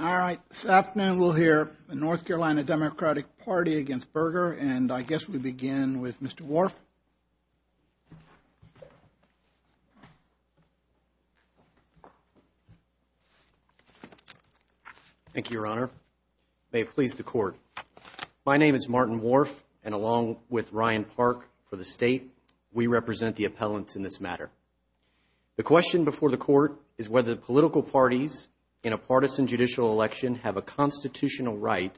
All right, this afternoon we'll hear the North Carolina Democratic Party against Berger, and I guess we begin with Mr. Worf. Thank you, Your Honor. May it please the Court. My name is Martin Worf, and along with Ryan Park for the State, we represent the appellants in this matter. The question before the Court is whether political parties in a partisan judicial election have a constitutional right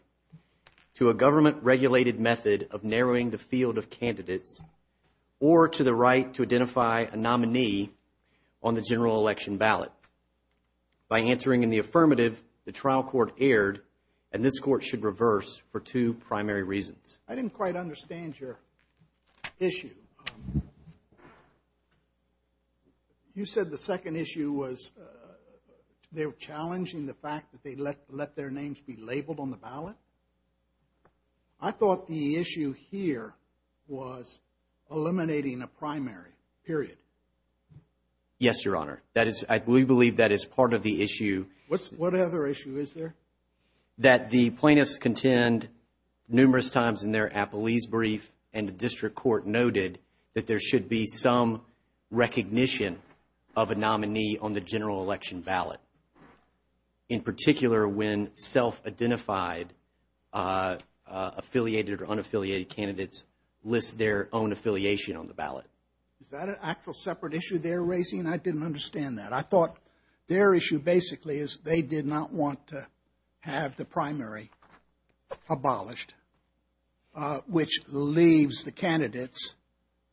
to a government-regulated method of narrowing the field of candidates or to the right to identify a nominee on the general election ballot. By answering in the affirmative, the trial court erred, and this Court should reverse for two primary reasons. I didn't quite understand your issue. You said the second issue was they were challenging the fact that they let their names be labeled on the ballot. I thought the issue here was eliminating a primary, period. Yes, Your Honor. We believe that is part of the issue. What other issue is there? That the plaintiffs contend numerous times in their appellees' brief and the district court noted that there should be some recognition of a nominee on the general election ballot, in particular when self-identified affiliated or unaffiliated candidates list their own affiliation on the ballot. Is that an actual separate issue they're raising? I didn't understand that. I thought their issue basically is they did not want to have the primary abolished, which leaves the candidates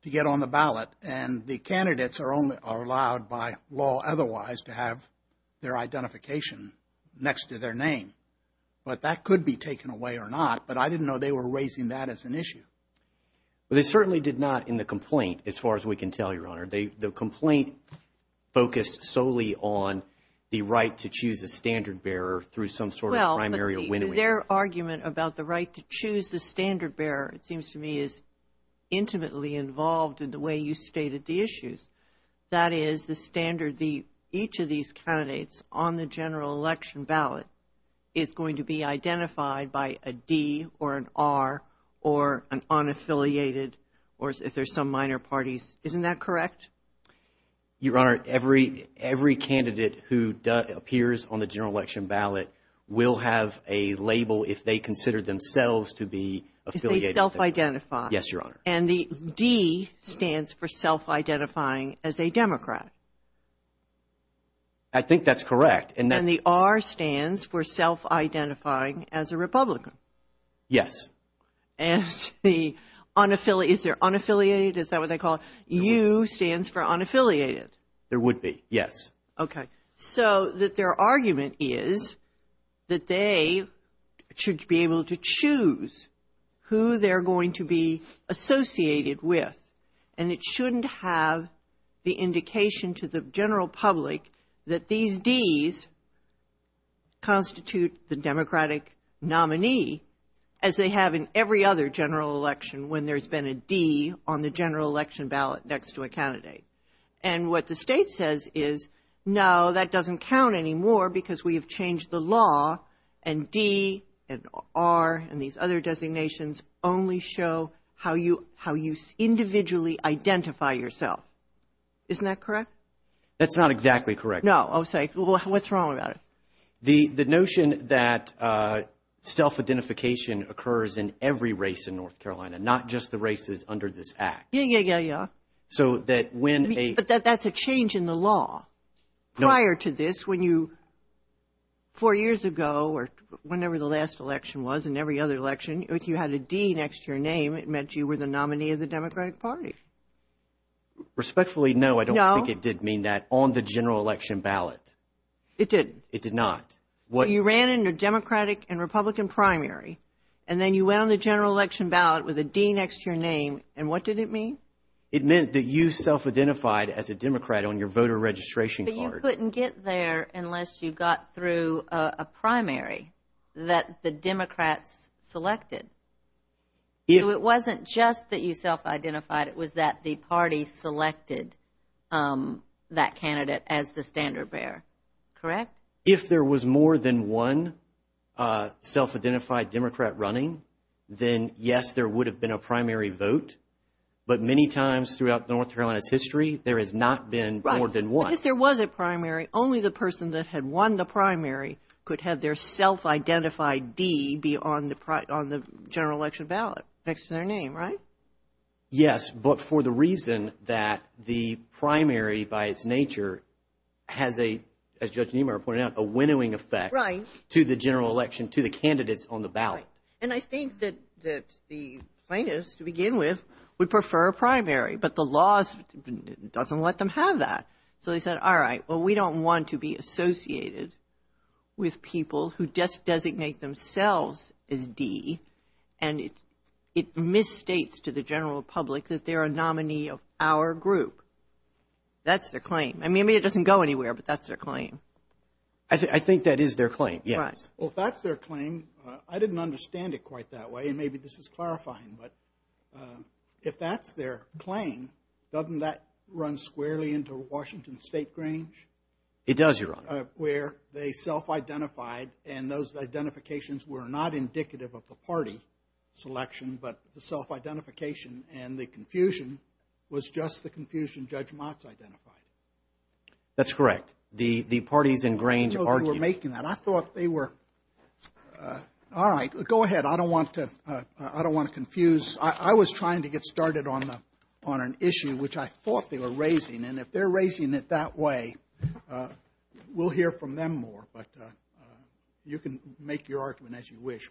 to get on the ballot, and the candidates are allowed by law otherwise to have their identification next to their name. But that could be taken away or not, but I didn't know they were raising that as an issue. Well, they certainly did not in the complaint, as far as we can tell, Your Honor. The complaint focused solely on the right to choose a standard bearer through some sort of primary or winnowing. Well, their argument about the right to choose the standard bearer, it seems to me, is intimately involved in the way you stated the issues. That is, the standard, each of these candidates on the general election ballot is going to be identified by a D or an R or an unaffiliated or if there's some minor parties. Isn't that correct? Your Honor, every candidate who appears on the general election ballot will have a label if they consider themselves to be affiliated. If they self-identify. Yes, Your Honor. And the D stands for self-identifying as a Democrat. I think that's correct. And the R stands for self-identifying as a Republican. Yes. And the unaffiliated, is there unaffiliated, is that what they call it? U stands for unaffiliated. There would be, yes. So that their argument is that they should be able to choose who they're going to be associated with. And it shouldn't have the indication to the general public that these Ds constitute the Democratic nominee as they have in every other general election when there's been a D on the general election ballot next to a candidate. And what the State says is, no, that doesn't count anymore because we have changed the law and D and R and these other designations only show how you individually identify yourself. Isn't that correct? That's not exactly correct. No. I'm sorry. What's wrong about it? The notion that self-identification occurs in every race in North Carolina, not just the races under this Act. Yeah, yeah, yeah, yeah. So that when a But that's a change in the law. No. Prior to this, when you, four years ago or whenever the last election was and every other election, if you had a D next to your name, it meant you were the nominee of the Democratic Party. Respectfully, no. No. I don't think it did mean that on the general election ballot. It did. It did not. You ran in a Democratic and Republican primary and then you went on the general election ballot with a D next to your name and what did it mean? It meant that you self-identified as a Democrat on your voter registration card. But you couldn't get there unless you got through a primary that the Democrats selected. So it wasn't just that you self-identified, it was that the party selected that candidate as the standard bearer. Correct? If there was more than one self-identified Democrat running, then yes, there would have been a primary vote. But many times throughout North Carolina's history, there has not been more than one. Right. Because there was a primary. Only the person that had won the primary could have their self-identified D be on the general election ballot next to their name, right? Yes, but for the reason that the primary by its nature has a, as Judge Niemeyer pointed out, a winnowing effect. Right. To the general election, to the candidates on the ballot. And I think that the plaintiffs, to begin with, would prefer a primary. But the law doesn't let them have that. So they said, all right, well, we don't want to be associated with people who just designate themselves as D, and it misstates to the general public that they're a nominee of our group. That's their claim. I mean, it doesn't go anywhere, but that's their claim. I think that is their claim, yes. Well, if that's their claim, I didn't understand it quite that way, and maybe this is clarifying, but if that's their claim, doesn't that run squarely into Washington State Grange? It does, Your Honor. Where they self-identified, and those identifications were not indicative of the party selection, but the self-identification and the confusion was just the confusion Judge Motz identified. That's correct. The parties in Grange argued. I thought they were making that. I thought they were, all right, go ahead. But I don't want to confuse. I was trying to get started on an issue which I thought they were raising, and if they're raising it that way, we'll hear from them more. But you can make your argument as you wish.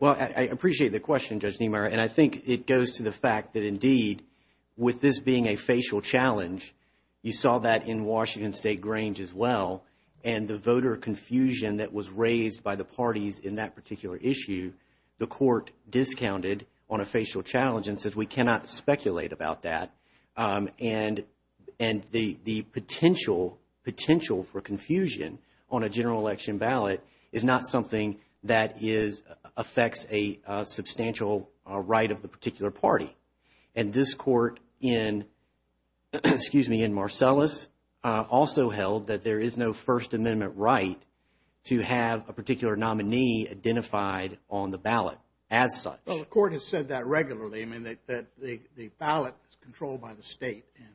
Well, I appreciate the question, Judge Niemeyer, and I think it goes to the fact that, indeed, with this being a facial challenge, you saw that in Washington State Grange as well, and the voter confusion that was raised by the parties in that particular issue, the court discounted on a facial challenge and said, We cannot speculate about that, and the potential for confusion on a general election ballot is not something that affects a substantial right of the particular party. And this court in Marcellus also held that there is no First Amendment right to have a particular nominee identified on the ballot as such. Well, the court has said that regularly, I mean, that the ballot is controlled by the state and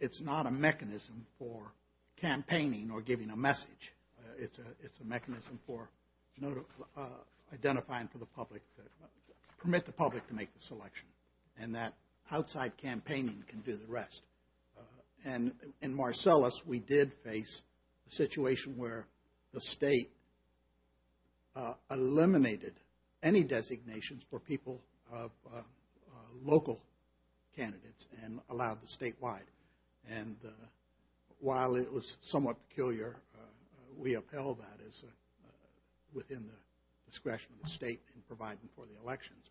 it's not a mechanism for campaigning or giving a message. It's a mechanism for identifying for the public, permit the public to make the selection, and that outside campaigning can do the rest. And in Marcellus, we did face a situation where the state eliminated any designations for people of local candidates and allowed the statewide. And while it was somewhat peculiar, we upheld that as within the discretion of the state in providing for the elections.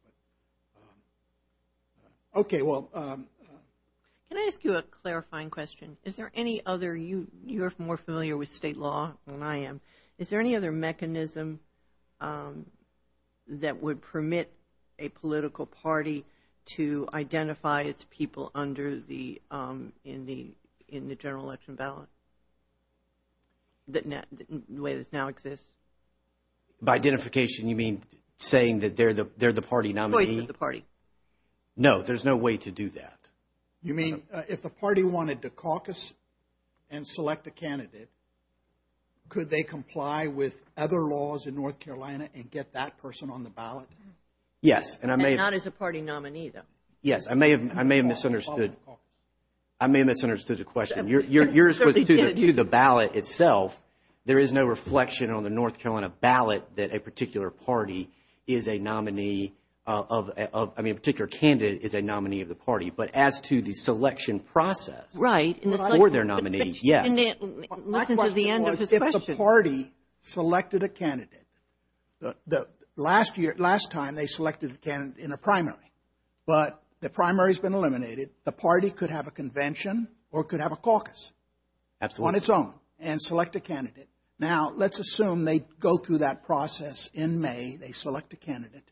Okay, well. Can I ask you a clarifying question? Is there any other, you're more familiar with state law than I am, is there any other mechanism that would permit a political party to identify its people under the, in the general election ballot, the way this now exists? By identification, you mean saying that they're the party nominee? Choice of the party. No, there's no way to do that. You mean if the party wanted to caucus and select a candidate, could they comply with other laws in North Carolina and get that person on the ballot? Yes, and I may have. North Carolina is a party nominee, though. Yes, I may have misunderstood. I may have misunderstood the question. Yours was to the ballot itself. There is no reflection on the North Carolina ballot that a particular party is a nominee of, I mean a particular candidate is a nominee of the party. But as to the selection process for their nominee, yes. My question was if the party selected a candidate. Last year, last time they selected a candidate in a primary, but the primary has been eliminated, the party could have a convention or could have a caucus on its own and select a candidate. Now, let's assume they go through that process in May, they select a candidate,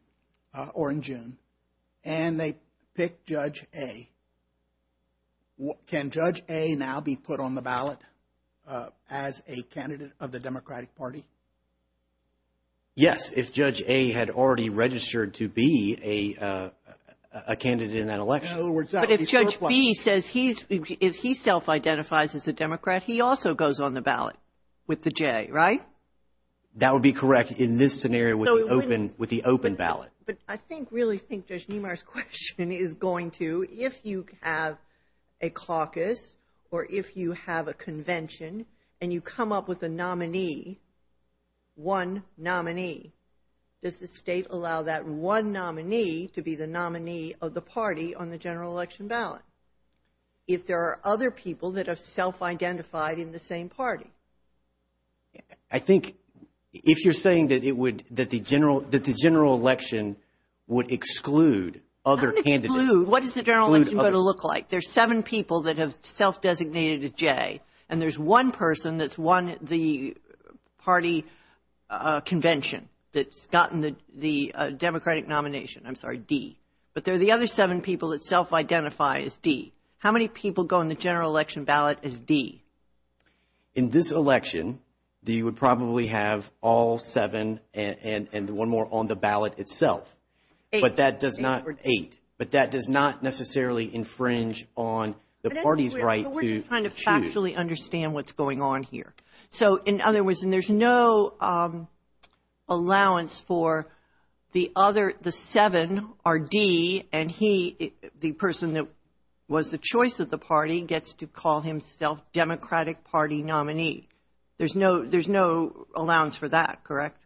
or in June, and they pick Judge A. Can Judge A now be put on the ballot as a candidate of the Democratic Party? Yes, if Judge A had already registered to be a candidate in that election. But if Judge B says he's, if he self-identifies as a Democrat, he also goes on the ballot with the J, right? That would be correct in this scenario with the open ballot. But I think, really think Judge Niemeyer's question is going to, if you have a caucus or if you have a convention and you come up with a nominee, one nominee, does the state allow that one nominee to be the nominee of the party on the general election ballot? If there are other people that have self-identified in the same party? I think if you're saying that it would, that the general, that the general election would exclude other candidates. Exclude, what is the general election going to look like? There's seven people that have self-designated a J, and there's one person that's won the party convention that's gotten the Democratic nomination, I'm sorry, D. But there are the other seven people that self-identify as D. How many people go on the general election ballot as D? In this election, you would probably have all seven and one more on the ballot itself. Eight. But that does not, eight. But that does not necessarily infringe on the party's right to choose. But we're just trying to factually understand what's going on here. So, in other words, and there's no allowance for the other, the seven are D, and he, the person that was the choice of the party, gets to call himself Democratic Party nominee. There's no, there's no allowance for that, correct?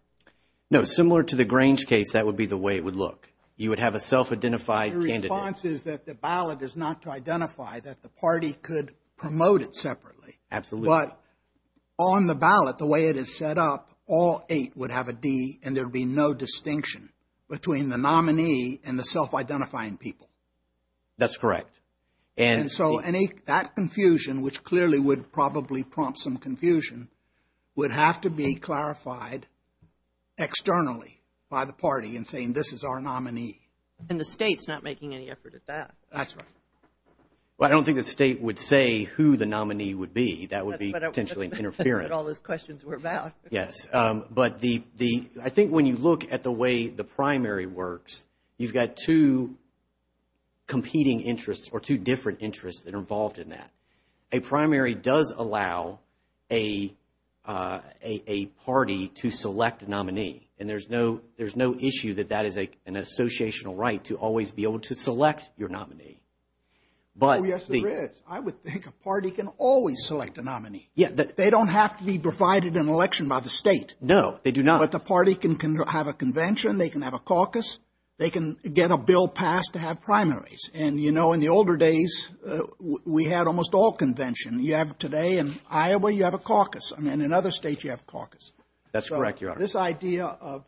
No, similar to the Grange case, that would be the way it would look. You would have a self-identified candidate. The response is that the ballot is not to identify, that the party could promote it separately. Absolutely. But on the ballot, the way it is set up, all eight would have a D, and there would be no distinction between the nominee and the self-identifying people. That's correct. And so, that confusion, which clearly would probably prompt some confusion, would have to be clarified externally by the party in saying, this is our nominee. And the state's not making any effort at that. That's right. Well, I don't think the state would say who the nominee would be. That would be potentially interference. That's what all those questions were about. Yes. But the, I think when you look at the way the primary works, you've got two competing interests or two different interests that are involved in that. A primary does allow a party to select a nominee, and there's no issue that that is an associational right to always be able to select your nominee. Oh, yes, there is. I would think a party can always select a nominee. They don't have to be provided an election by the state. No, they do not. But the party can have a convention. They can have a caucus. They can get a bill passed to have primaries. And, you know, in the older days, we had almost all conventions. You have today in Iowa, you have a caucus. And in other states, you have a caucus. That's correct, Your Honor. So this idea of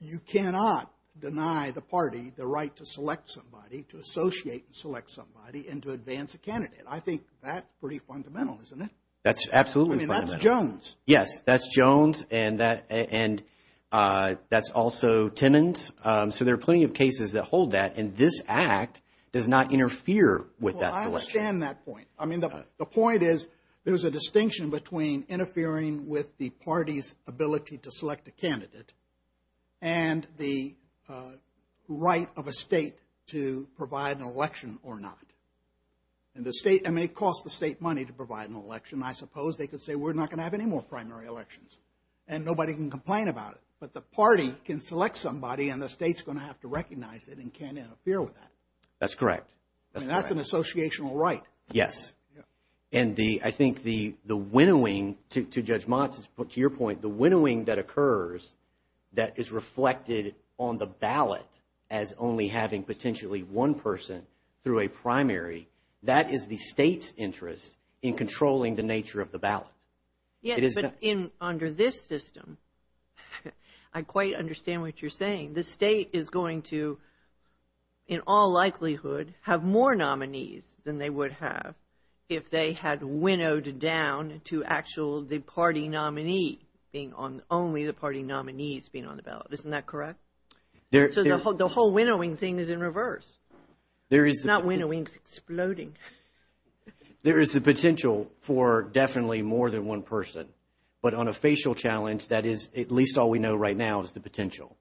you cannot deny the party the right to select somebody, to associate and select somebody, and to advance a candidate. I think that's pretty fundamental, isn't it? That's absolutely fundamental. I mean, that's Jones. Yes, that's Jones, and that's also Timmons. So there are plenty of cases that hold that. And this Act does not interfere with that selection. Well, I understand that point. I mean, the point is there's a distinction between interfering with the party's ability to select a candidate and the right of a state to provide an election or not. And the state may cost the state money to provide an election. I suppose they could say we're not going to have any more primary elections. And nobody can complain about it. But the party can select somebody, and the state's going to have to recognize it and can't interfere with that. That's correct. And that's an associational right. Yes. And I think the winnowing, to Judge Monson's point, to your point, the winnowing that occurs that is reflected on the ballot as only having potentially one person through a primary, that is the state's interest in controlling the nature of the ballot. Yes, but under this system, I quite understand what you're saying. The state is going to, in all likelihood, have more nominees than they would have if they had winnowed down to actually the party nominee being on, only the party nominees being on the ballot. Isn't that correct? So the whole winnowing thing is in reverse. It's not winnowing, it's exploding. There is the potential for definitely more than one person. But on a facial challenge, that is at least all we know right now is the potential.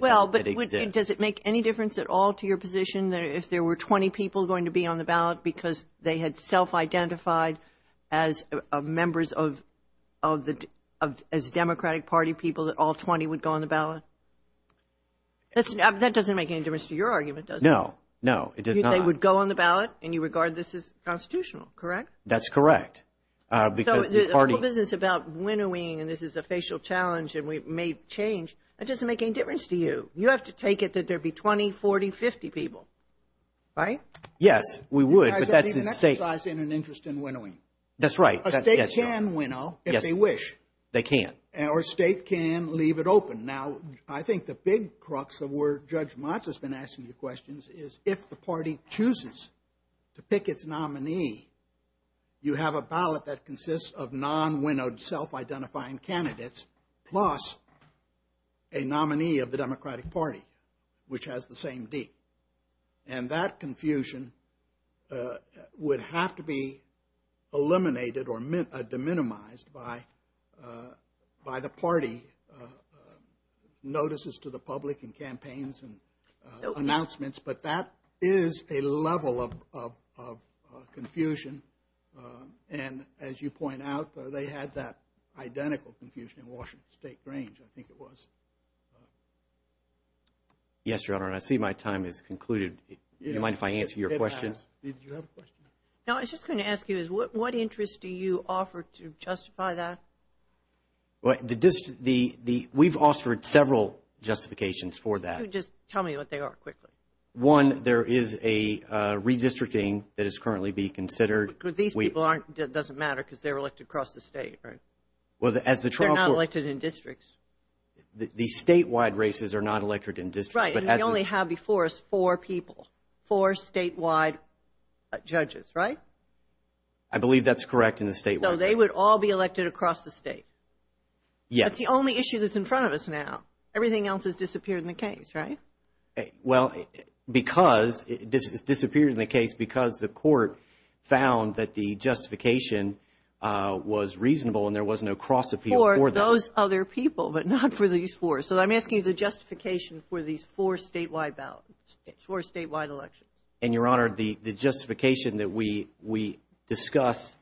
Well, but does it make any difference at all to your position if there were 20 people going to be on the ballot because they had self-identified as members of the Democratic Party people that all 20 would go on the ballot? That doesn't make any difference to your argument, does it? No, no, it does not. They would go on the ballot and you regard this as constitutional, correct? That's correct. So the whole business about winnowing and this is a facial challenge and we may change, that doesn't make any difference to you. You have to take it that there would be 20, 40, 50 people, right? Yes, we would. But you guys aren't even exercising an interest in winnowing. That's right. A state can winnow if they wish. They can. Or a state can leave it open. Now, I think the big crux of where Judge Motz has been asking you questions is if the party chooses to pick its nominee, you have a ballot that consists of non-winnowed self-identifying candidates plus a nominee of the Democratic Party which has the same D. And that confusion would have to be eliminated or de-minimized by the party notices to the public and campaigns and announcements. But that is a level of confusion. And as you point out, they had that identical confusion in Washington State Grange, I think it was. Yes, Your Honor, and I see my time has concluded. Do you mind if I answer your question? Did you have a question? No, I was just going to ask you is what interest do you offer to justify that? We've offered several justifications for that. Just tell me what they are quickly. One, there is a redistricting that is currently being considered. But these people doesn't matter because they're elected across the state, right? They're not elected in districts. The statewide races are not elected in districts. Right, and we only have before us four people, four statewide judges, right? I believe that's correct in the statewide races. So they would all be elected across the state? Yes. That's the only issue that's in front of us now. Everything else has disappeared in the case, right? Well, because it disappeared in the case because the court found that the justification was reasonable and there was no cross appeal for that. For those other people, but not for these four. So I'm asking you the justification for these four statewide ballots, four statewide elections. And, Your Honor, the justification that we discuss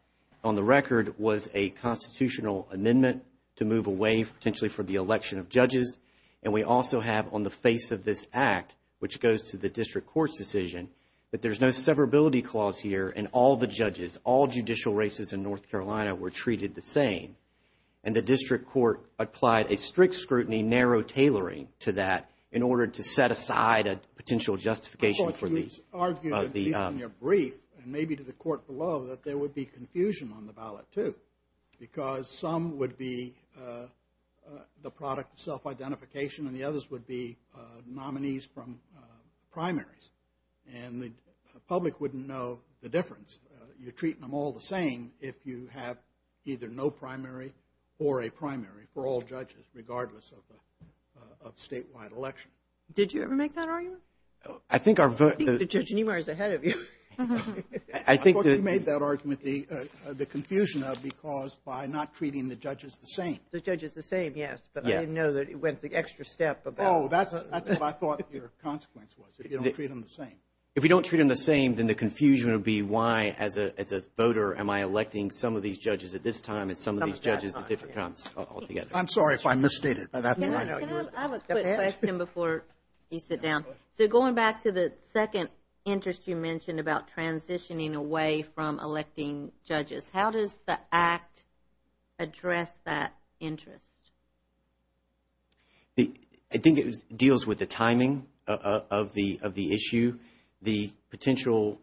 on the record was a constitutional amendment to move away potentially for the election of judges. And we also have on the face of this act, which goes to the district court's decision, that there's no severability clause here and all the judges, all judicial races in North Carolina were treated the same. And the district court applied a strict scrutiny, narrow tailoring to that in order to set aside a potential justification for these. I thought you had argued in your brief and maybe to the court below that there would be confusion on the ballot too. Because some would be the product of self-identification and the others would be nominees from primaries. And the public wouldn't know the difference. You're treating them all the same if you have either no primary or a primary for all judges, regardless of statewide election. Did you ever make that argument? I think our vote. I think that Judge Niemeyer is ahead of you. I think that. I thought you made that argument, the confusion of because by not treating the judges the same. The judges the same, yes. But I didn't know that it went the extra step about. Oh, that's what I thought your consequence was, if you don't treat them the same. If you don't treat them the same, then the confusion would be why, as a voter, am I electing some of these judges at this time and some of these judges at different times altogether. I'm sorry if I misstated. Can I have a quick question before you sit down? So going back to the second interest you mentioned about transitioning away from electing judges, how does the Act address that interest? I think it deals with the timing of the issue. The potential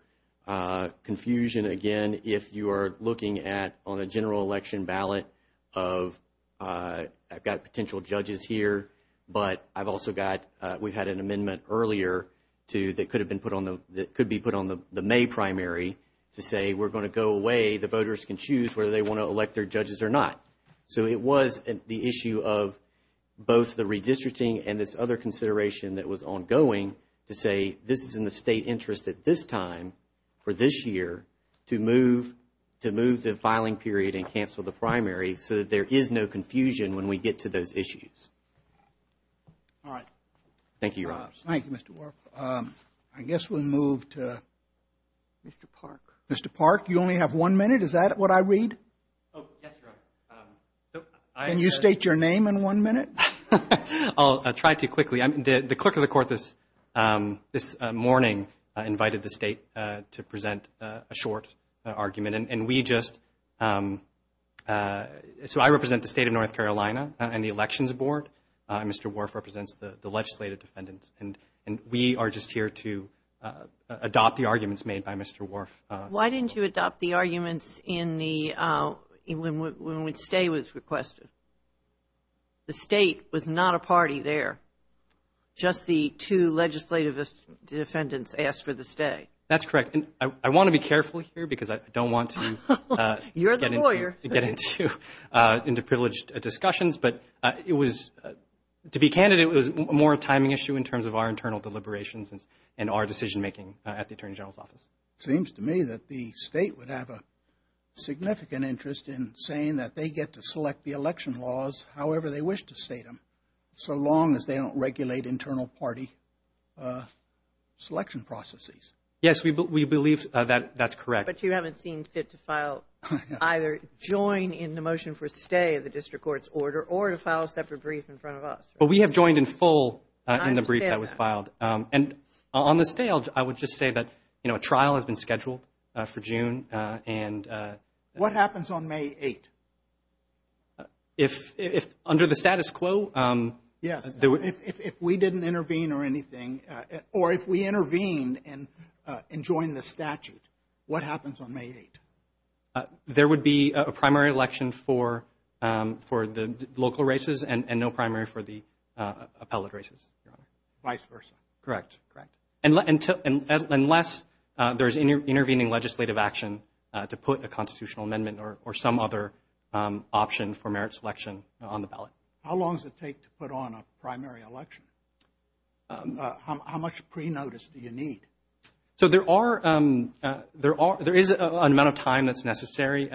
confusion, again, if you are looking at on a general election ballot of, I've got potential judges here, but I've also got, we had an amendment earlier to, that could have been put on the, that could be put on the May primary to say we're going to go away. The voters can choose whether they want to elect their judges or not. So it was the issue of both the redistricting and this other consideration that was ongoing to say, this is in the state interest at this time for this year to move the filing period and cancel the primary so that there is no confusion when we get to those issues. All right. Thank you, Your Honors. Thank you, Mr. Wharf. I guess we'll move to Mr. Park. Mr. Park, you only have one minute. Is that what I read? Oh, yes, Your Honor. Can you state your name in one minute? I'll try to quickly. The clerk of the court this morning invited the state to present a short argument, and we just, so I represent the state of North Carolina and the Elections Board, and Mr. Wharf represents the legislative defendants, and we are just here to adopt the arguments made by Mr. Wharf. Why didn't you adopt the arguments when stay was requested? The state was not a party there. Just the two legislative defendants asked for the stay. That's correct. I want to be careful here because I don't want to get into privileged discussions, but it was, to be candid, it was more a timing issue in terms of our internal deliberations and our decision-making at the Attorney General's Office. It seems to me that the state would have a significant interest in saying that they get to select the election laws however they wish to state them, so long as they don't regulate internal party selection processes. Yes, we believe that that's correct. But you haven't seen fit to file, either join in the motion for stay of the district court's order or to file a separate brief in front of us. But we have joined in full in the brief that was filed. And on the stay, I would just say that, you know, a trial has been scheduled for June. What happens on May 8th? If under the status quo. Yes, if we didn't intervene or anything, or if we intervened and joined the statute, what happens on May 8th? There would be a primary election for the local races and no primary for the appellate races, Your Honor. Vice versa. Correct. Correct. Unless there's intervening legislative action to put a constitutional amendment or some other option for merit selection on the ballot. How long does it take to put on a primary election? How much pre-notice do you need? So there is an amount of time that's necessary.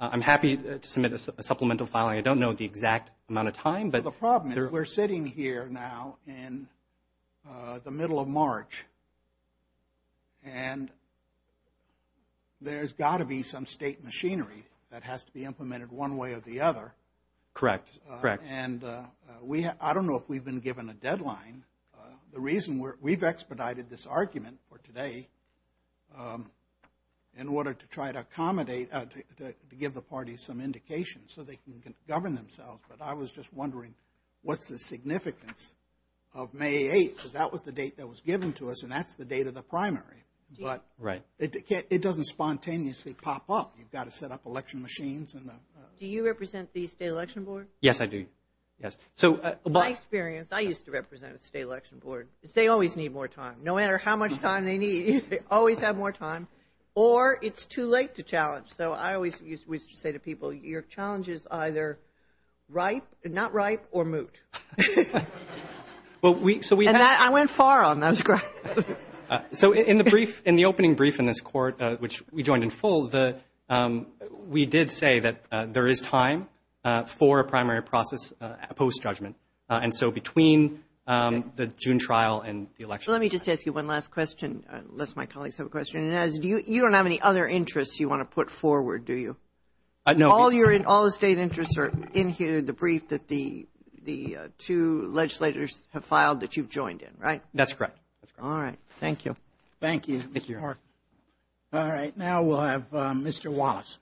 I'm happy to submit a supplemental filing. I don't know the exact amount of time. The problem is we're sitting here now in the middle of March, and there's got to be some state machinery that has to be implemented one way or the other. Correct. Correct. And I don't know if we've been given a deadline. The reason we've expedited this argument for today in order to try to accommodate to give the parties some indication so they can govern themselves. But I was just wondering what's the significance of May 8th, because that was the date that was given to us, and that's the date of the primary. But it doesn't spontaneously pop up. You've got to set up election machines. Do you represent the state election board? Yes, I do. Yes. My experience, I used to represent the state election board. They always need more time. Or it's too late to challenge. So I always used to say to people, your challenge is either not ripe or moot. And I went far on those grounds. So in the opening brief in this court, which we joined in full, we did say that there is time for a primary process post-judgment. And so between the June trial and the election. Let me just ask you one last question, unless my colleagues have a question. You don't have any other interests you want to put forward, do you? No. All the state interests are in here, the brief that the two legislators have filed that you've joined in, right? That's correct. All right. Thank you. Thank you, Mr. Clark. All right. Now we'll have Mr. Wallace.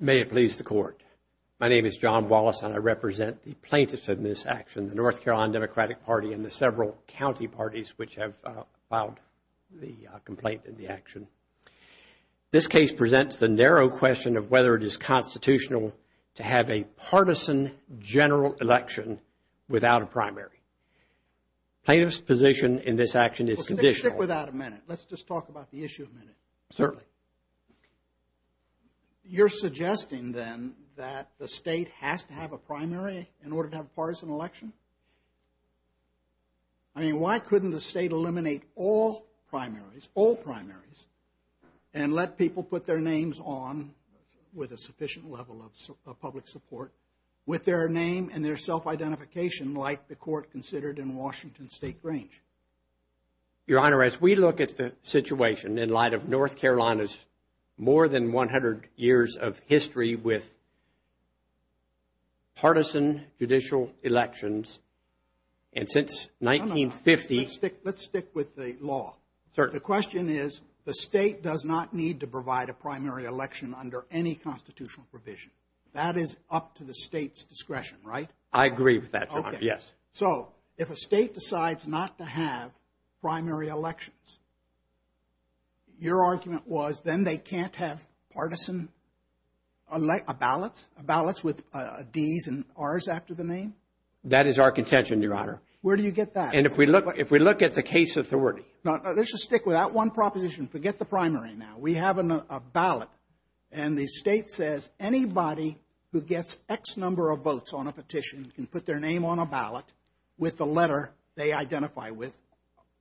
May it please the Court. My name is John Wallace, and I represent the plaintiffs in this action, the North Carolina Democratic Party and the several county parties which have filed the complaint in the action. This case presents the narrow question of whether it is constitutional to have a partisan general election without a primary. Plaintiffs' position in this action is conditional. Well, stick with that a minute. Let's just talk about the issue a minute. Certainly. You're suggesting then that the state has to have a primary in order to have a partisan election? I mean, why couldn't the state eliminate all primaries, all primaries, and let people put their names on with a sufficient level of public support with their name and their self-identification like the court considered in Washington State Grange? Your Honor, as we look at the situation in light of North Carolina's more than 100 years of history with partisan judicial elections, and since 1950. Let's stick with the law. The question is the state does not need to provide a primary election under any constitutional provision. That is up to the state's discretion, right? I agree with that, Your Honor, yes. So if a state decides not to have primary elections, your argument was then they can't have partisan ballots, ballots with D's and R's after the name? That is our contention, Your Honor. Where do you get that? And if we look at the case authority. Let's just stick with that one proposition. Forget the primary now. We have a ballot, and the state says anybody who gets X number of votes on a petition can put their name on a ballot with the letter they identify with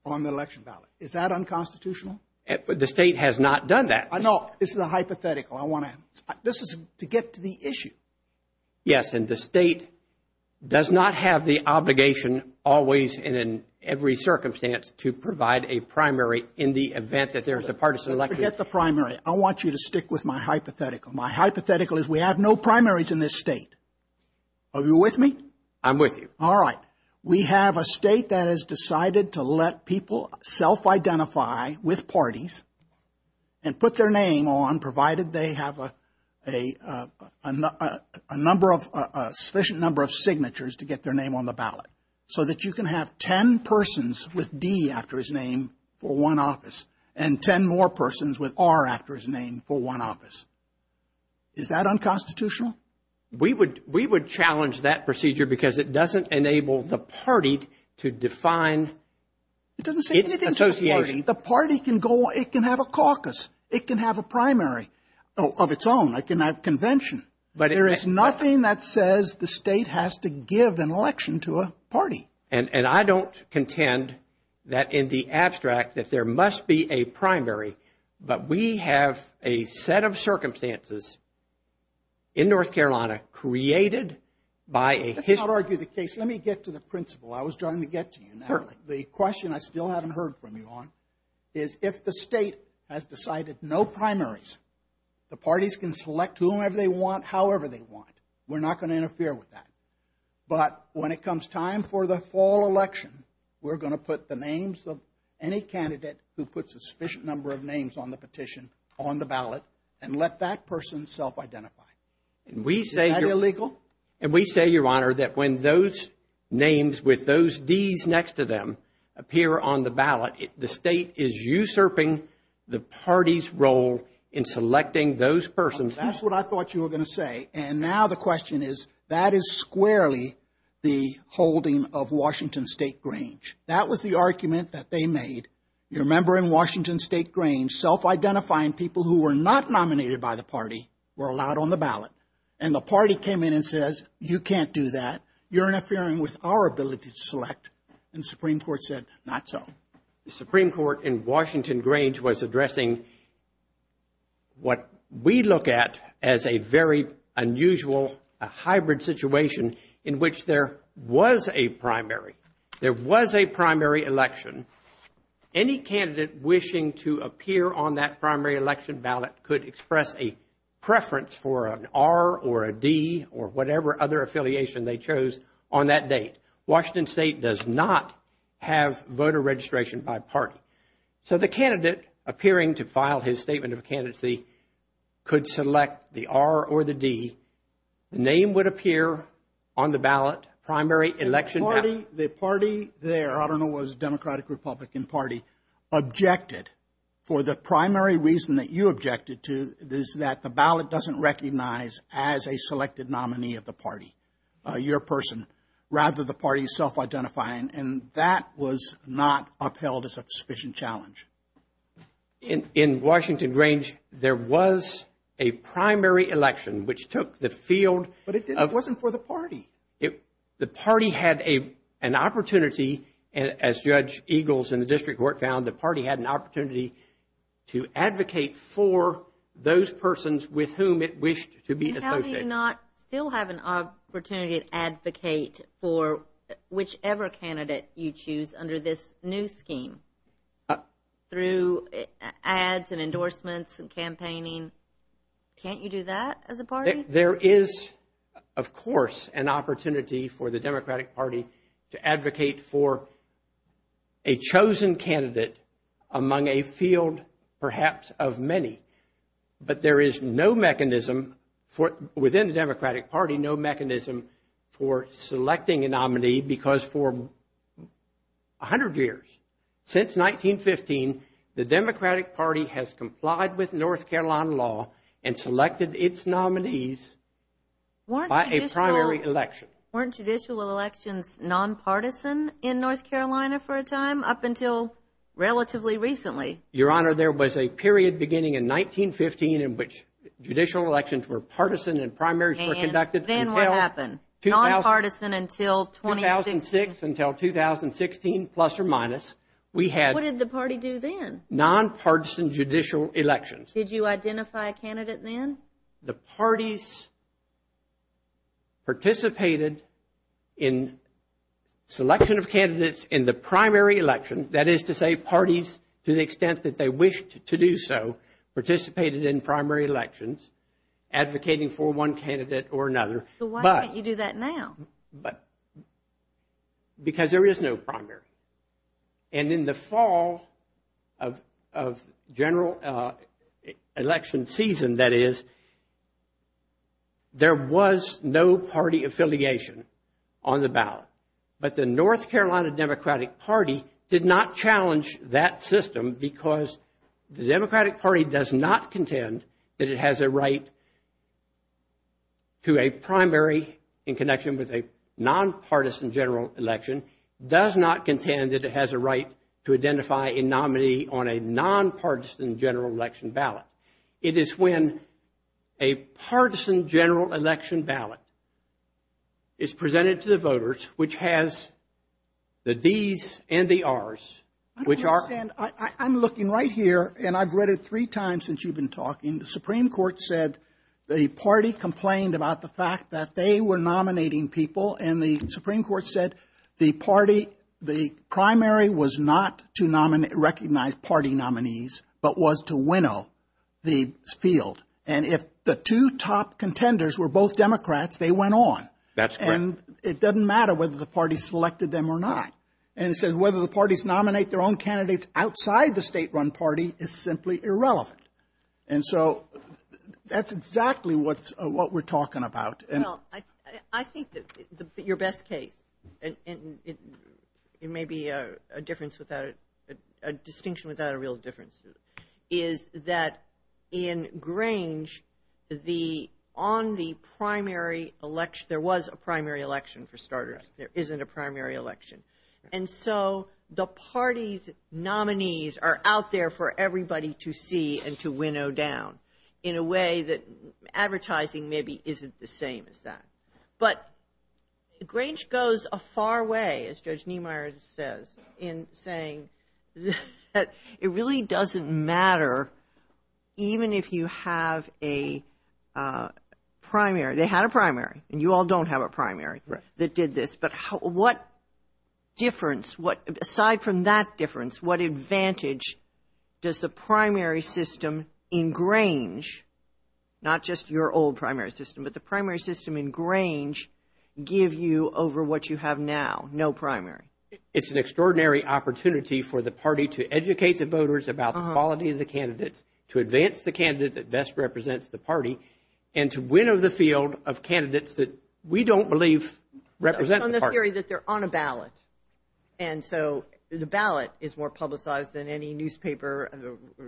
on the election ballot. Is that unconstitutional? The state has not done that. No, this is a hypothetical. This is to get to the issue. Yes, and the state does not have the obligation always and in every circumstance to provide a primary in the event that there is a partisan election. Forget the primary. I want you to stick with my hypothetical. My hypothetical is we have no primaries in this state. Are you with me? I'm with you. All right. We have a state that has decided to let people self-identify with parties and put their name on provided they have a sufficient number of signatures to get their name on the ballot so that you can have 10 persons with D after his name for one office and 10 more persons with R after his name for one office. Is that unconstitutional? We would challenge that procedure because it doesn't enable the party to define its association. It doesn't say anything about the party. The party can have a caucus. It can have a primary of its own. It can have a convention. There is nothing that says the state has to give an election to a party. And I don't contend that in the abstract that there must be a primary, but we have a set of circumstances in North Carolina created by a history. Let's not argue the case. Let me get to the principle. I was trying to get to you. The question I still haven't heard from you on is if the state has decided no primaries, the parties can select whomever they want, however they want. We're not going to interfere with that. But when it comes time for the fall election, we're going to put the names of any candidate who puts a sufficient number of names on the petition on the ballot and let that person self-identify. Is that illegal? And we say, Your Honor, that when those names with those Ds next to them appear on the ballot, the state is usurping the party's role in selecting those persons. That's what I thought you were going to say. And now the question is, that is squarely the holding of Washington State Grange. That was the argument that they made. You remember in Washington State Grange, self-identifying people who were not nominated by the party were allowed on the ballot. And the party came in and says, You can't do that. You're interfering with our ability to select. And the Supreme Court said, Not so. The Supreme Court in Washington Grange was addressing what we look at as a very unusual, a hybrid situation in which there was a primary. There was a primary election. Any candidate wishing to appear on that primary election ballot could express a preference for an R or a D or whatever other affiliation they chose on that date. Washington State does not have voter registration by party. So the candidate appearing to file his statement of candidacy could select the R or the D. The name would appear on the ballot, primary election ballot. The party there, I don't know if it was Democratic or Republican Party, objected for the primary reason that you objected to, is that the ballot doesn't recognize as a selected nominee of the party, your person, rather the party's self-identifying. And that was not upheld as a sufficient challenge. In Washington Grange, there was a primary election which took the field of... But it wasn't for the party. The party had an opportunity, as Judge Eagles in the district court found, the party had an opportunity to advocate for those persons with whom it wished to be associated. Do you not still have an opportunity to advocate for whichever candidate you choose under this new scheme through ads and endorsements and campaigning? Can't you do that as a party? There is, of course, an opportunity for the Democratic Party to advocate for a chosen candidate among a field, perhaps, of many. But there is no mechanism within the Democratic Party, no mechanism for selecting a nominee because for 100 years, since 1915, the Democratic Party has complied with North Carolina law and selected its nominees by a primary election. Weren't judicial elections nonpartisan in North Carolina for a time up until relatively recently? Your Honor, there was a period beginning in 1915 in which judicial elections were partisan and primaries were conducted until 2006, until 2016, plus or minus. What did the party do then? Nonpartisan judicial elections. Did you identify a candidate then? The parties participated in selection of candidates in the primary election, that is to say parties, to the extent that they wished to do so, participated in primary elections advocating for one candidate or another. So why can't you do that now? Because there is no primary. And in the fall of general election season, that is, there was no party affiliation on the ballot. But the North Carolina Democratic Party did not challenge that system because the Democratic Party does not contend that it has a right to a primary in connection with a nonpartisan general election, does not contend that it has a right to identify a nominee on a nonpartisan general election ballot. It is when a partisan general election ballot is presented to the voters, which has the D's and the R's, which are... I don't understand. I'm looking right here, and I've read it three times since you've been talking. The Supreme Court said the party complained about the fact that they were nominating people, and the Supreme Court said the primary was not to recognize party nominees, but was to winnow the field. And if the two top contenders were both Democrats, they went on. That's correct. And it doesn't matter whether the party selected them or not. And it says whether the parties nominate their own candidates outside the state-run party is simply irrelevant. And so that's exactly what we're talking about. I think your best case, and it may be a distinction without a real difference, is that in Grange, on the primary election, there was a primary election for starters. There isn't a primary election. And so the party's nominees are out there for everybody to see and to winnow down in a way that advertising maybe isn't the same as that. But Grange goes a far way, as Judge Niemeyer says, in saying that it really doesn't matter even if you have a primary. They had a primary, and you all don't have a primary that did this. But what difference, aside from that difference, what advantage does the primary system in Grange, not just your old primary system, but the primary system in Grange, give you over what you have now? No primary. It's an extraordinary opportunity for the party to educate the voters about the quality of the candidates, to advance the candidate that best represents the party, and to winnow the field of candidates that we don't believe represent the party. On the theory that they're on a ballot. And so the ballot is more publicized than any newspaper. I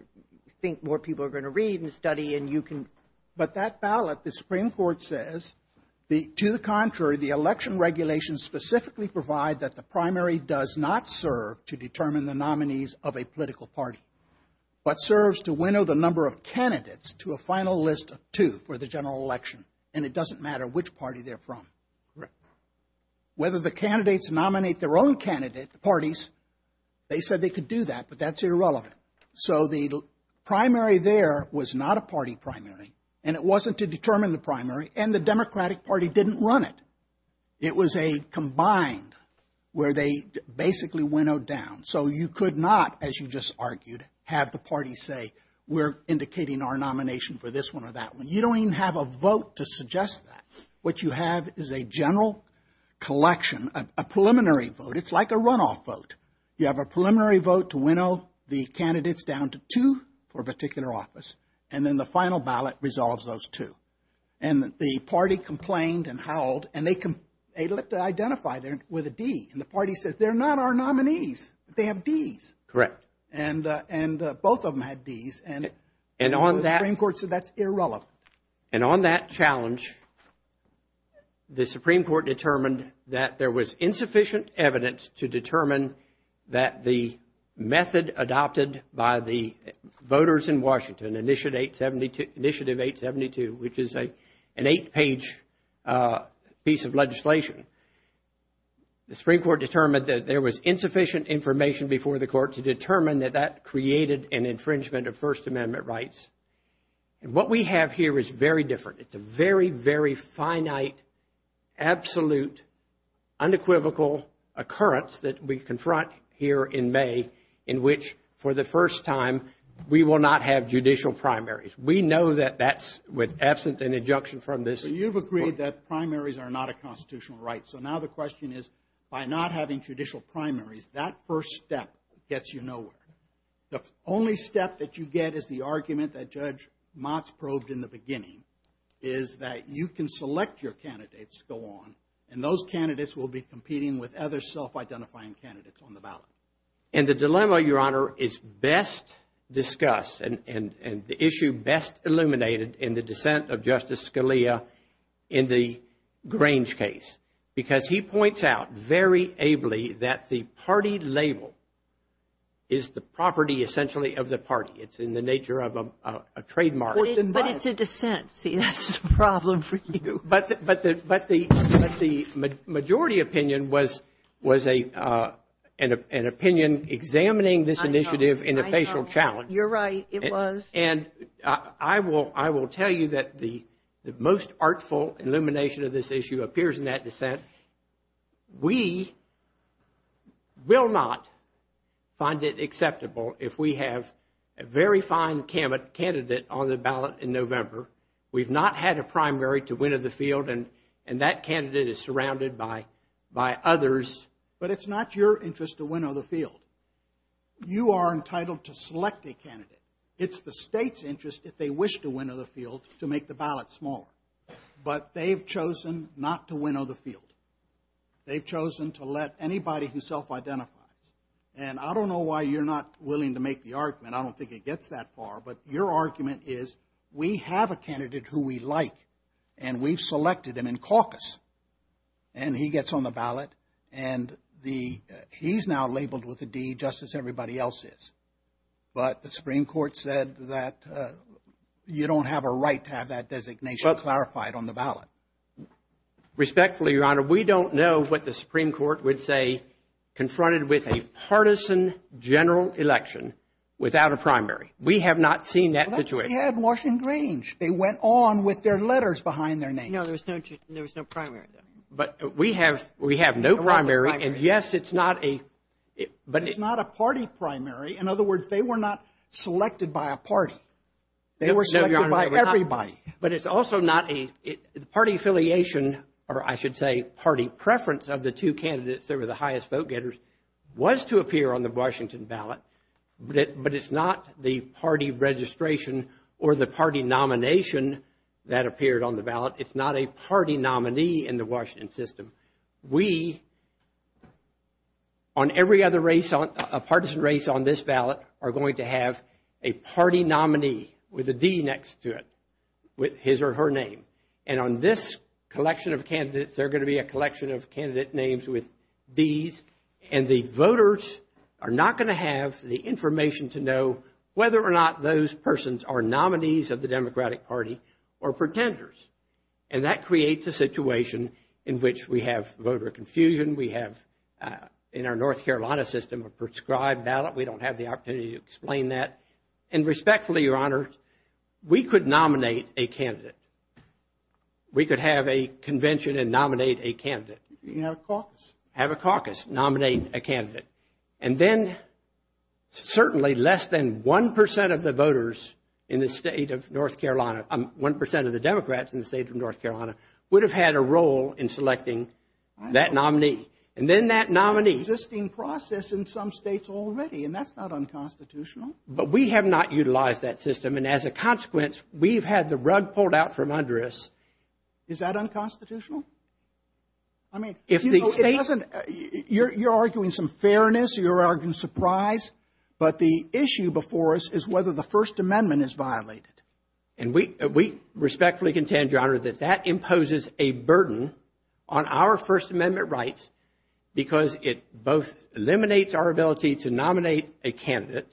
think more people are going to read and study and you can. But that ballot, the Supreme Court says, to the contrary, the election regulations specifically provide that the primary does not serve to determine the nominees of a political party, but serves to winnow the number of candidates to a final list of two for the general election. And it doesn't matter which party they're from. Correct. Whether the candidates nominate their own parties, they said they could do that, but that's irrelevant. So the primary there was not a party primary, and it wasn't to determine the primary, and the Democratic Party didn't run it. It was a combined where they basically winnowed down. So you could not, as you just argued, have the party say, we're indicating our nomination for this one or that one. You don't even have a vote to suggest that. What you have is a general collection, a preliminary vote. It's like a runoff vote. You have a preliminary vote to winnow the candidates down to two for a particular office, and then the final ballot resolves those two. And the party complained and howled, and they looked to identify them with a D. And the party said, they're not our nominees. They have Ds. Correct. And both of them had Ds, and the Supreme Court said that's irrelevant. And on that challenge, the Supreme Court determined that there was insufficient evidence to determine that the method adopted by the voters in Washington, Initiative 872, which is an eight-page piece of legislation, the Supreme Court determined that there was insufficient information before the court to determine that that created an infringement of First Amendment rights. And what we have here is very different. It's a very, very finite, absolute, unequivocal occurrence that we confront here in May in which, for the first time, we will not have judicial primaries. We know that that's with absent an injunction from this court. We've agreed that primaries are not a constitutional right. So now the question is, by not having judicial primaries, that first step gets you nowhere. The only step that you get is the argument that Judge Motz probed in the beginning, is that you can select your candidates to go on, and those candidates will be competing with other self-identifying candidates on the ballot. And the dilemma, Your Honor, is best discussed and the issue best illuminated in the dissent of Justice Scalia in the Grange case, because he points out very ably that the party label is the property, essentially, of the party. It's in the nature of a trademark. But it's a dissent. See, that's a problem for you. But the majority opinion was an opinion examining this initiative in a facial challenge. You're right, it was. And I will tell you that the most artful illumination of this issue appears in that dissent. We will not find it acceptable if we have a very fine candidate on the ballot in November. We've not had a primary to win of the field, and that candidate is surrounded by others. But it's not your interest to win of the field. You are entitled to select a candidate. It's the state's interest, if they wish to win of the field, to make the ballot smaller. But they've chosen not to win of the field. They've chosen to let anybody who self-identifies. And I don't know why you're not willing to make the argument. I don't think it gets that far. But your argument is we have a candidate who we like, and we've selected him in caucus. And he gets on the ballot, and he's now labeled with a D just as everybody else is. But the Supreme Court said that you don't have a right to have that designation clarified on the ballot. Respectfully, Your Honor, we don't know what the Supreme Court would say confronted with a partisan general election without a primary. We have not seen that situation. But they had Washington Grange. They went on with their letters behind their names. No, there was no primary. But we have no primary. And, yes, it's not a party primary. In other words, they were not selected by a party. They were selected by everybody. But it's also not a party affiliation, or I should say party preference of the two candidates that were the highest vote-getters was to appear on the Washington ballot. But it's not the party registration or the party nomination that appeared on the ballot. It's not a party nominee in the Washington system. We, on every other race, a partisan race on this ballot, are going to have a party nominee with a D next to it with his or her name. And on this collection of candidates, there are going to be a collection of candidate names with Ds. And the voters are not going to have the information to know whether or not those persons are nominees of the Democratic Party or pretenders. And that creates a situation in which we have voter confusion. We have, in our North Carolina system, a prescribed ballot. We don't have the opportunity to explain that. And respectfully, Your Honor, we could nominate a candidate. We could have a convention and nominate a candidate. You can have a caucus. Have a caucus. Nominate a candidate. And then certainly less than 1% of the voters in the state of North Carolina, 1% of the Democrats in the state of North Carolina, would have had a role in selecting that nominee. And then that nominee. There's an existing process in some states already, and that's not unconstitutional. But we have not utilized that system. And as a consequence, we've had the rug pulled out from under us. Is that unconstitutional? I mean, you know, it doesn't. You're arguing some fairness. You're arguing surprise. But the issue before us is whether the First Amendment is violated. And we respectfully contend, Your Honor, that that imposes a burden on our First Amendment rights because it both eliminates our ability to nominate a candidate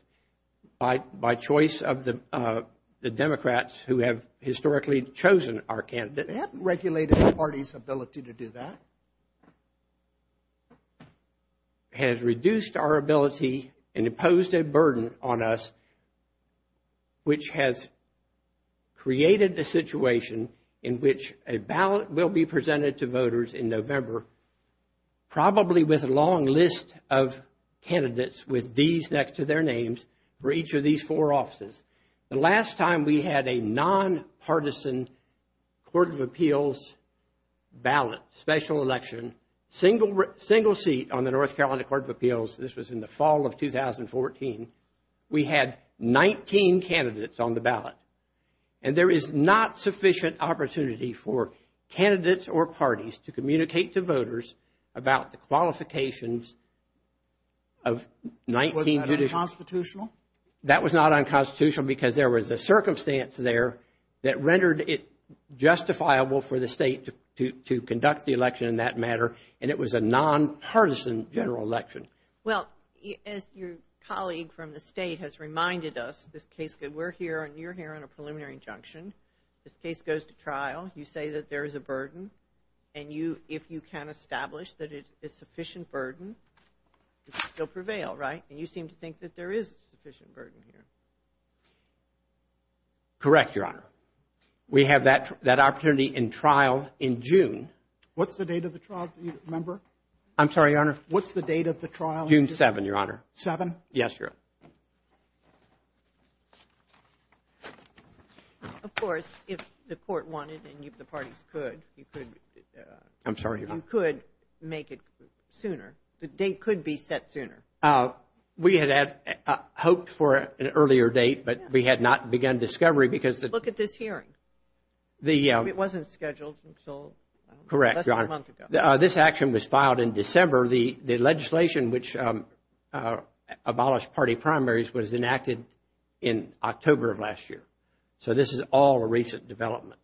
by choice of the Democrats who have historically chosen our candidate. It hasn't regulated the party's ability to do that. It has reduced our ability and imposed a burden on us, which has created a situation in which a ballot will be presented to voters in November, probably with a long list of candidates with D's next to their names for each of these four offices. The last time we had a nonpartisan Court of Appeals ballot, special election, single seat on the North Carolina Court of Appeals, this was in the fall of 2014, we had 19 candidates on the ballot. And there is not sufficient opportunity for candidates or parties to communicate to voters about the qualifications of 19 judiciaries. Was that unconstitutional? That was not unconstitutional because there was a circumstance there that rendered it justifiable for the state to conduct the election in that matter, and it was a nonpartisan general election. Well, as your colleague from the state has reminded us, this case, we're here and you're here on a preliminary injunction. This case goes to trial. You say that there is a burden, and if you can establish that it is sufficient burden, it will prevail, right? And you seem to think that there is sufficient burden here. Correct, Your Honor. We have that opportunity in trial in June. What's the date of the trial, member? I'm sorry, Your Honor. What's the date of the trial? June 7, Your Honor. Seven? Yes, Your Honor. Of course, if the court wanted and the parties could, you could make it sooner. The date could be set sooner. We had hoped for an earlier date, but we had not begun discovery because the – Look at this hearing. It wasn't scheduled until less than a month ago. Correct, Your Honor. This action was filed in December. The legislation which abolished party primaries was enacted in October of last year. So this is all a recent development.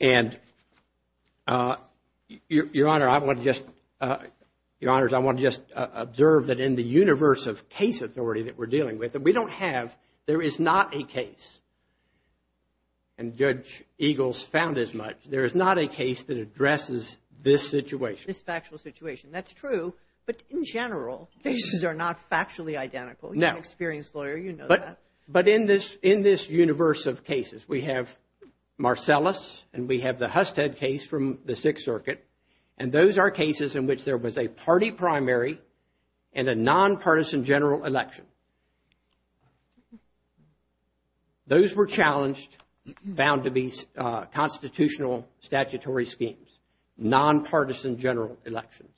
And, Your Honor, I want to just – Your Honors, I want to just observe that in the universe of case authority that we're dealing with, and we don't have – there is not a case, and Judge Eagles found as much. There is not a case that addresses this situation. This factual situation. That's true. But in general, cases are not factually identical. No. You're an experienced lawyer. You know that. But in this universe of cases, we have Marcellus and we have the Husted case from the Sixth Circuit, and those are cases in which there was a party primary and a nonpartisan general election. Those were challenged, found to be constitutional statutory schemes, nonpartisan general elections.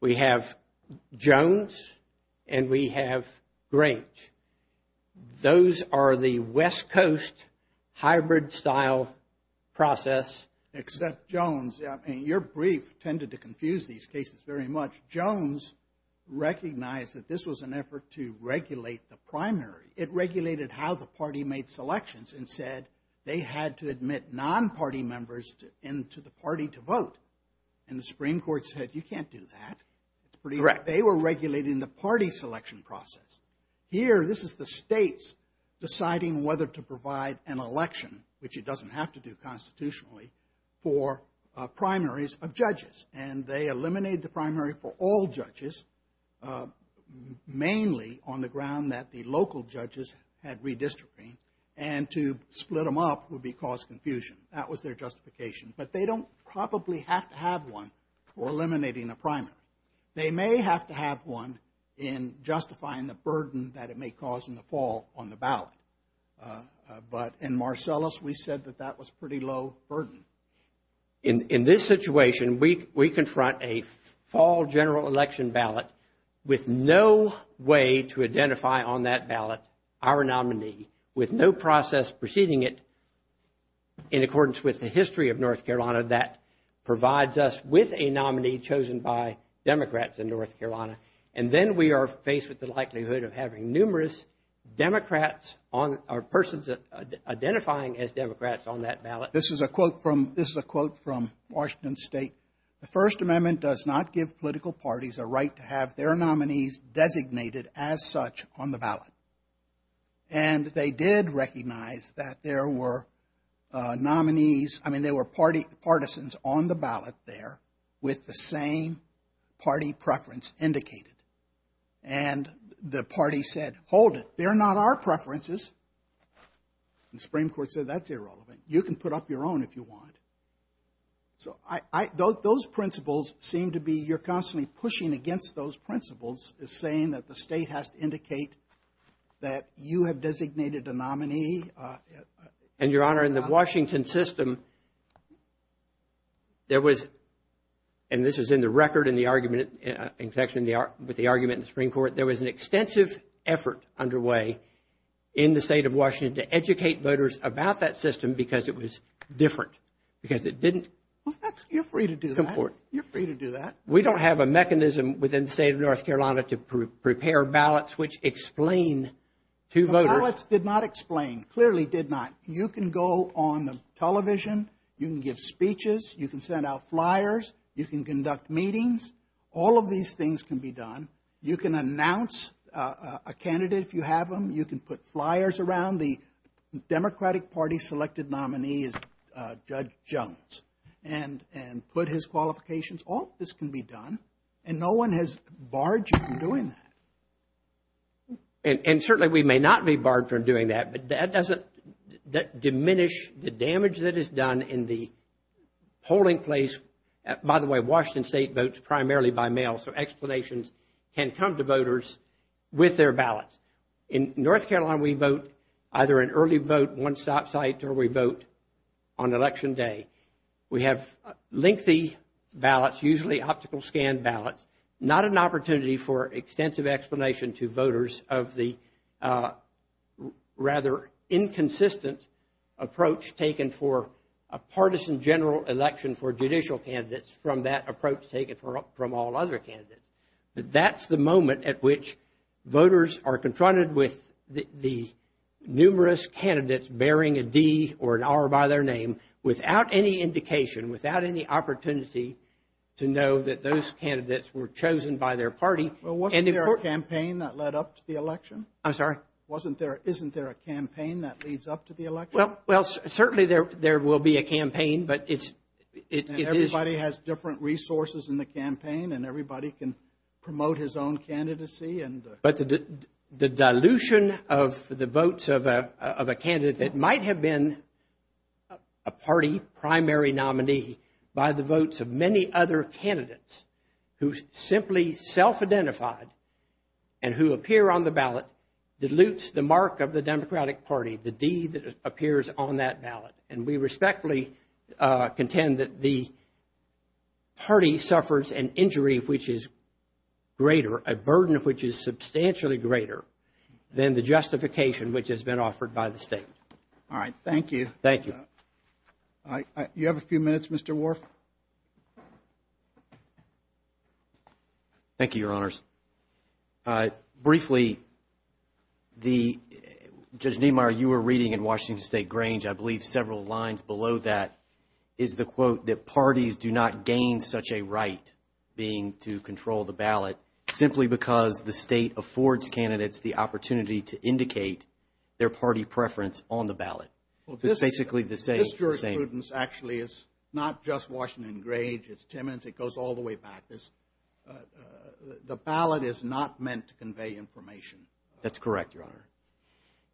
We have Jones and we have Grange. Those are the West Coast hybrid style process. Except Jones, I mean, your brief tended to confuse these cases very much. Jones recognized that this was an effort to regulate the primary. It regulated how the party made selections and said they had to admit nonparty members into the party to vote. And the Supreme Court said, you can't do that. Correct. They were regulating the party selection process. Here, this is the states deciding whether to provide an election, which it doesn't have to do constitutionally, for primaries of judges. And they eliminated the primary for all judges, mainly on the ground that the local judges had redistricting, and to split them up would cause confusion. That was their justification. But they don't probably have to have one for eliminating a primary. They may have to have one in justifying the burden that it may cause in the fall on the ballot. But in Marcellus, we said that that was pretty low burden. In this situation, we confront a fall general election ballot with no way to identify on that ballot our nominee, with no process preceding it, in accordance with the history of North Carolina, that provides us with a nominee chosen by Democrats in North Carolina. And then we are faced with the likelihood of having numerous Democrats or persons identifying as Democrats on that ballot. This is a quote from Washington State. The First Amendment does not give political parties a right to have their nominees designated as such on the ballot. And they did recognize that there were nominees, I mean, there were partisans on the ballot there, with the same party preference indicated. And the party said, hold it, they're not our preferences. And the Supreme Court said, that's irrelevant. You can put up your own if you want. So those principles seem to be, you're constantly pushing against those principles, saying that the state has to indicate that you have designated a nominee. And, Your Honor, in the Washington system, there was, and this is in the record in the argument, in connection with the argument in the Supreme Court, that there was an extensive effort underway in the state of Washington to educate voters about that system because it was different, because it didn't. You're free to do that. You're free to do that. We don't have a mechanism within the state of North Carolina to prepare ballots which explain to voters. The ballots did not explain, clearly did not. You can go on the television, you can give speeches, you can send out flyers, you can conduct meetings. All of these things can be done. You can announce a candidate if you have them. You can put flyers around the Democratic Party's selected nominee is Judge Jones and put his qualifications. All of this can be done, and no one has barred you from doing that. And certainly we may not be barred from doing that, but that doesn't diminish the damage that is done in the polling place. By the way, Washington State votes primarily by mail, so explanations can come to voters with their ballots. In North Carolina, we vote either an early vote, one-stop site, or we vote on Election Day. We have lengthy ballots, usually optical scan ballots, not an opportunity for extensive explanation to voters of the rather inconsistent approach taken for a partisan general election for judicial candidates from that approach taken from all other candidates. That's the moment at which voters are confronted with the numerous candidates bearing a D or an R by their name without any indication, without any opportunity to know that those candidates were chosen by their party. Wasn't there a campaign that led up to the election? I'm sorry? Isn't there a campaign that leads up to the election? Well, certainly there will be a campaign, but it is... And everybody has different resources in the campaign, and everybody can promote his own candidacy and... But the dilution of the votes of a candidate that might have been a party primary nominee by the votes of many other candidates who simply self-identified and who appear on the ballot dilutes the mark of the Democratic Party, the D that appears on that ballot. And we respectfully contend that the party suffers an injury which is greater, a burden which is substantially greater than the justification which has been offered by the state. All right. Thank you. Thank you. You have a few minutes, Mr. Worf. Thank you, Your Honors. Briefly, the... Judge Nehmeyer, you were reading in Washington State Grange, I believe several lines below that, is the quote that parties do not gain such a right being to control the ballot simply because the state affords candidates the opportunity to indicate their party preference on the ballot. It's basically the same. This jurisprudence actually is not just Washington Grange. It's Timmins. It goes all the way back. The ballot is not meant to convey information. That's correct, Your Honor.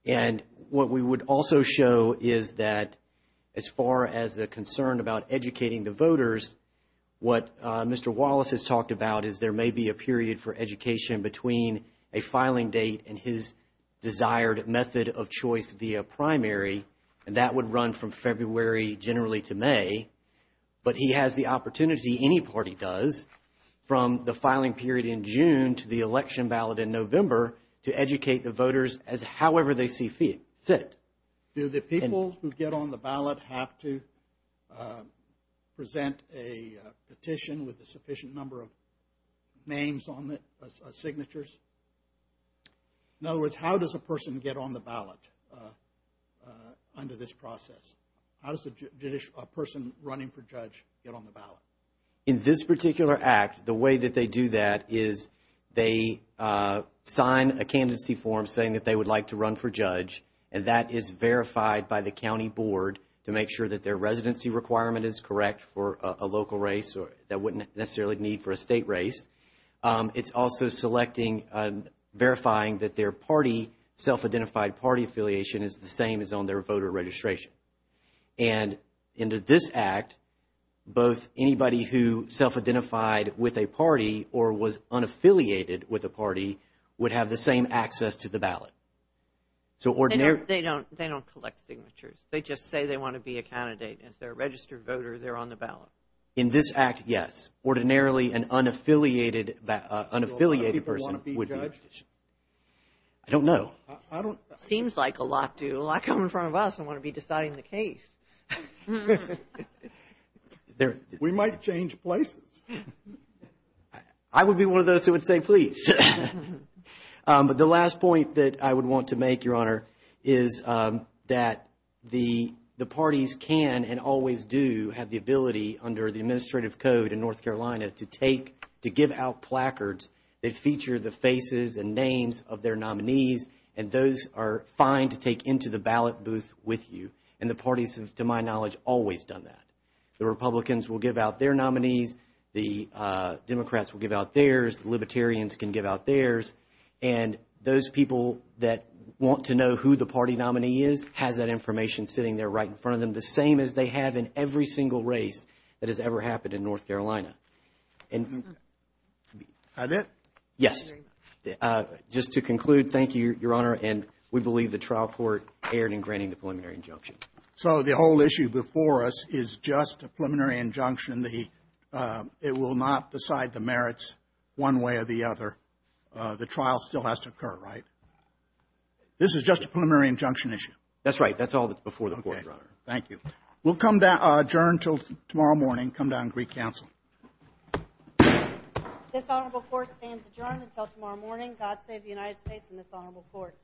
And what we would also show is that as far as the concern about educating the voters, what Mr. Wallace has talked about is there may be a period for education between a filing date and his desired method of choice via primary, and that would run from February generally to May. But he has the opportunity, any party does, from the filing period in June to the election ballot in November to educate the voters as however they see fit. Do the people who get on the ballot have to present a petition with a sufficient number of names on it, signatures? In other words, how does a person get on the ballot under this process? How does a person running for judge get on the ballot? In this particular act, the way that they do that is they sign a candidacy form saying that they would like to run for judge, and that is verified by the county board to make sure that their residency requirement is correct for a local race that wouldn't necessarily need for a state race. It's also selecting, verifying that their party, self-identified party affiliation is the same as on their voter registration. And under this act, both anybody who self-identified with a party or was unaffiliated with a party would have the same access to the ballot. They don't collect signatures. They just say they want to be a candidate. If they're a registered voter, they're on the ballot. In this act, yes. Ordinarily, an unaffiliated person would be on the petition. I don't know. Seems like a lot do. A lot come in front of us and want to be deciding the case. We might change places. I would be one of those who would say please. But the last point that I would want to make, Your Honor, is that the parties can and always do have the ability under the administrative code in North Carolina to give out placards that feature the faces and names of their nominees, and those are fine to take into the ballot booth with you. And the parties have, to my knowledge, always done that. The Republicans will give out their nominees. The Democrats will give out theirs. The Libertarians can give out theirs. And those people that want to know who the party nominee is has that information sitting there right in front of them, the same as they have in every single race that has ever happened in North Carolina. That it? Yes. Just to conclude, thank you, Your Honor, and we believe the trial court erred in granting the preliminary injunction. So the whole issue before us is just a preliminary injunction. It will not decide the merits one way or the other. The trial still has to occur, right? This is just a preliminary injunction issue. That's right. That's all that's before the court, Your Honor. Thank you. We'll adjourn until tomorrow morning and come down to Greek Council. This honorable court stands adjourned until tomorrow morning. God save the United States and this honorable court.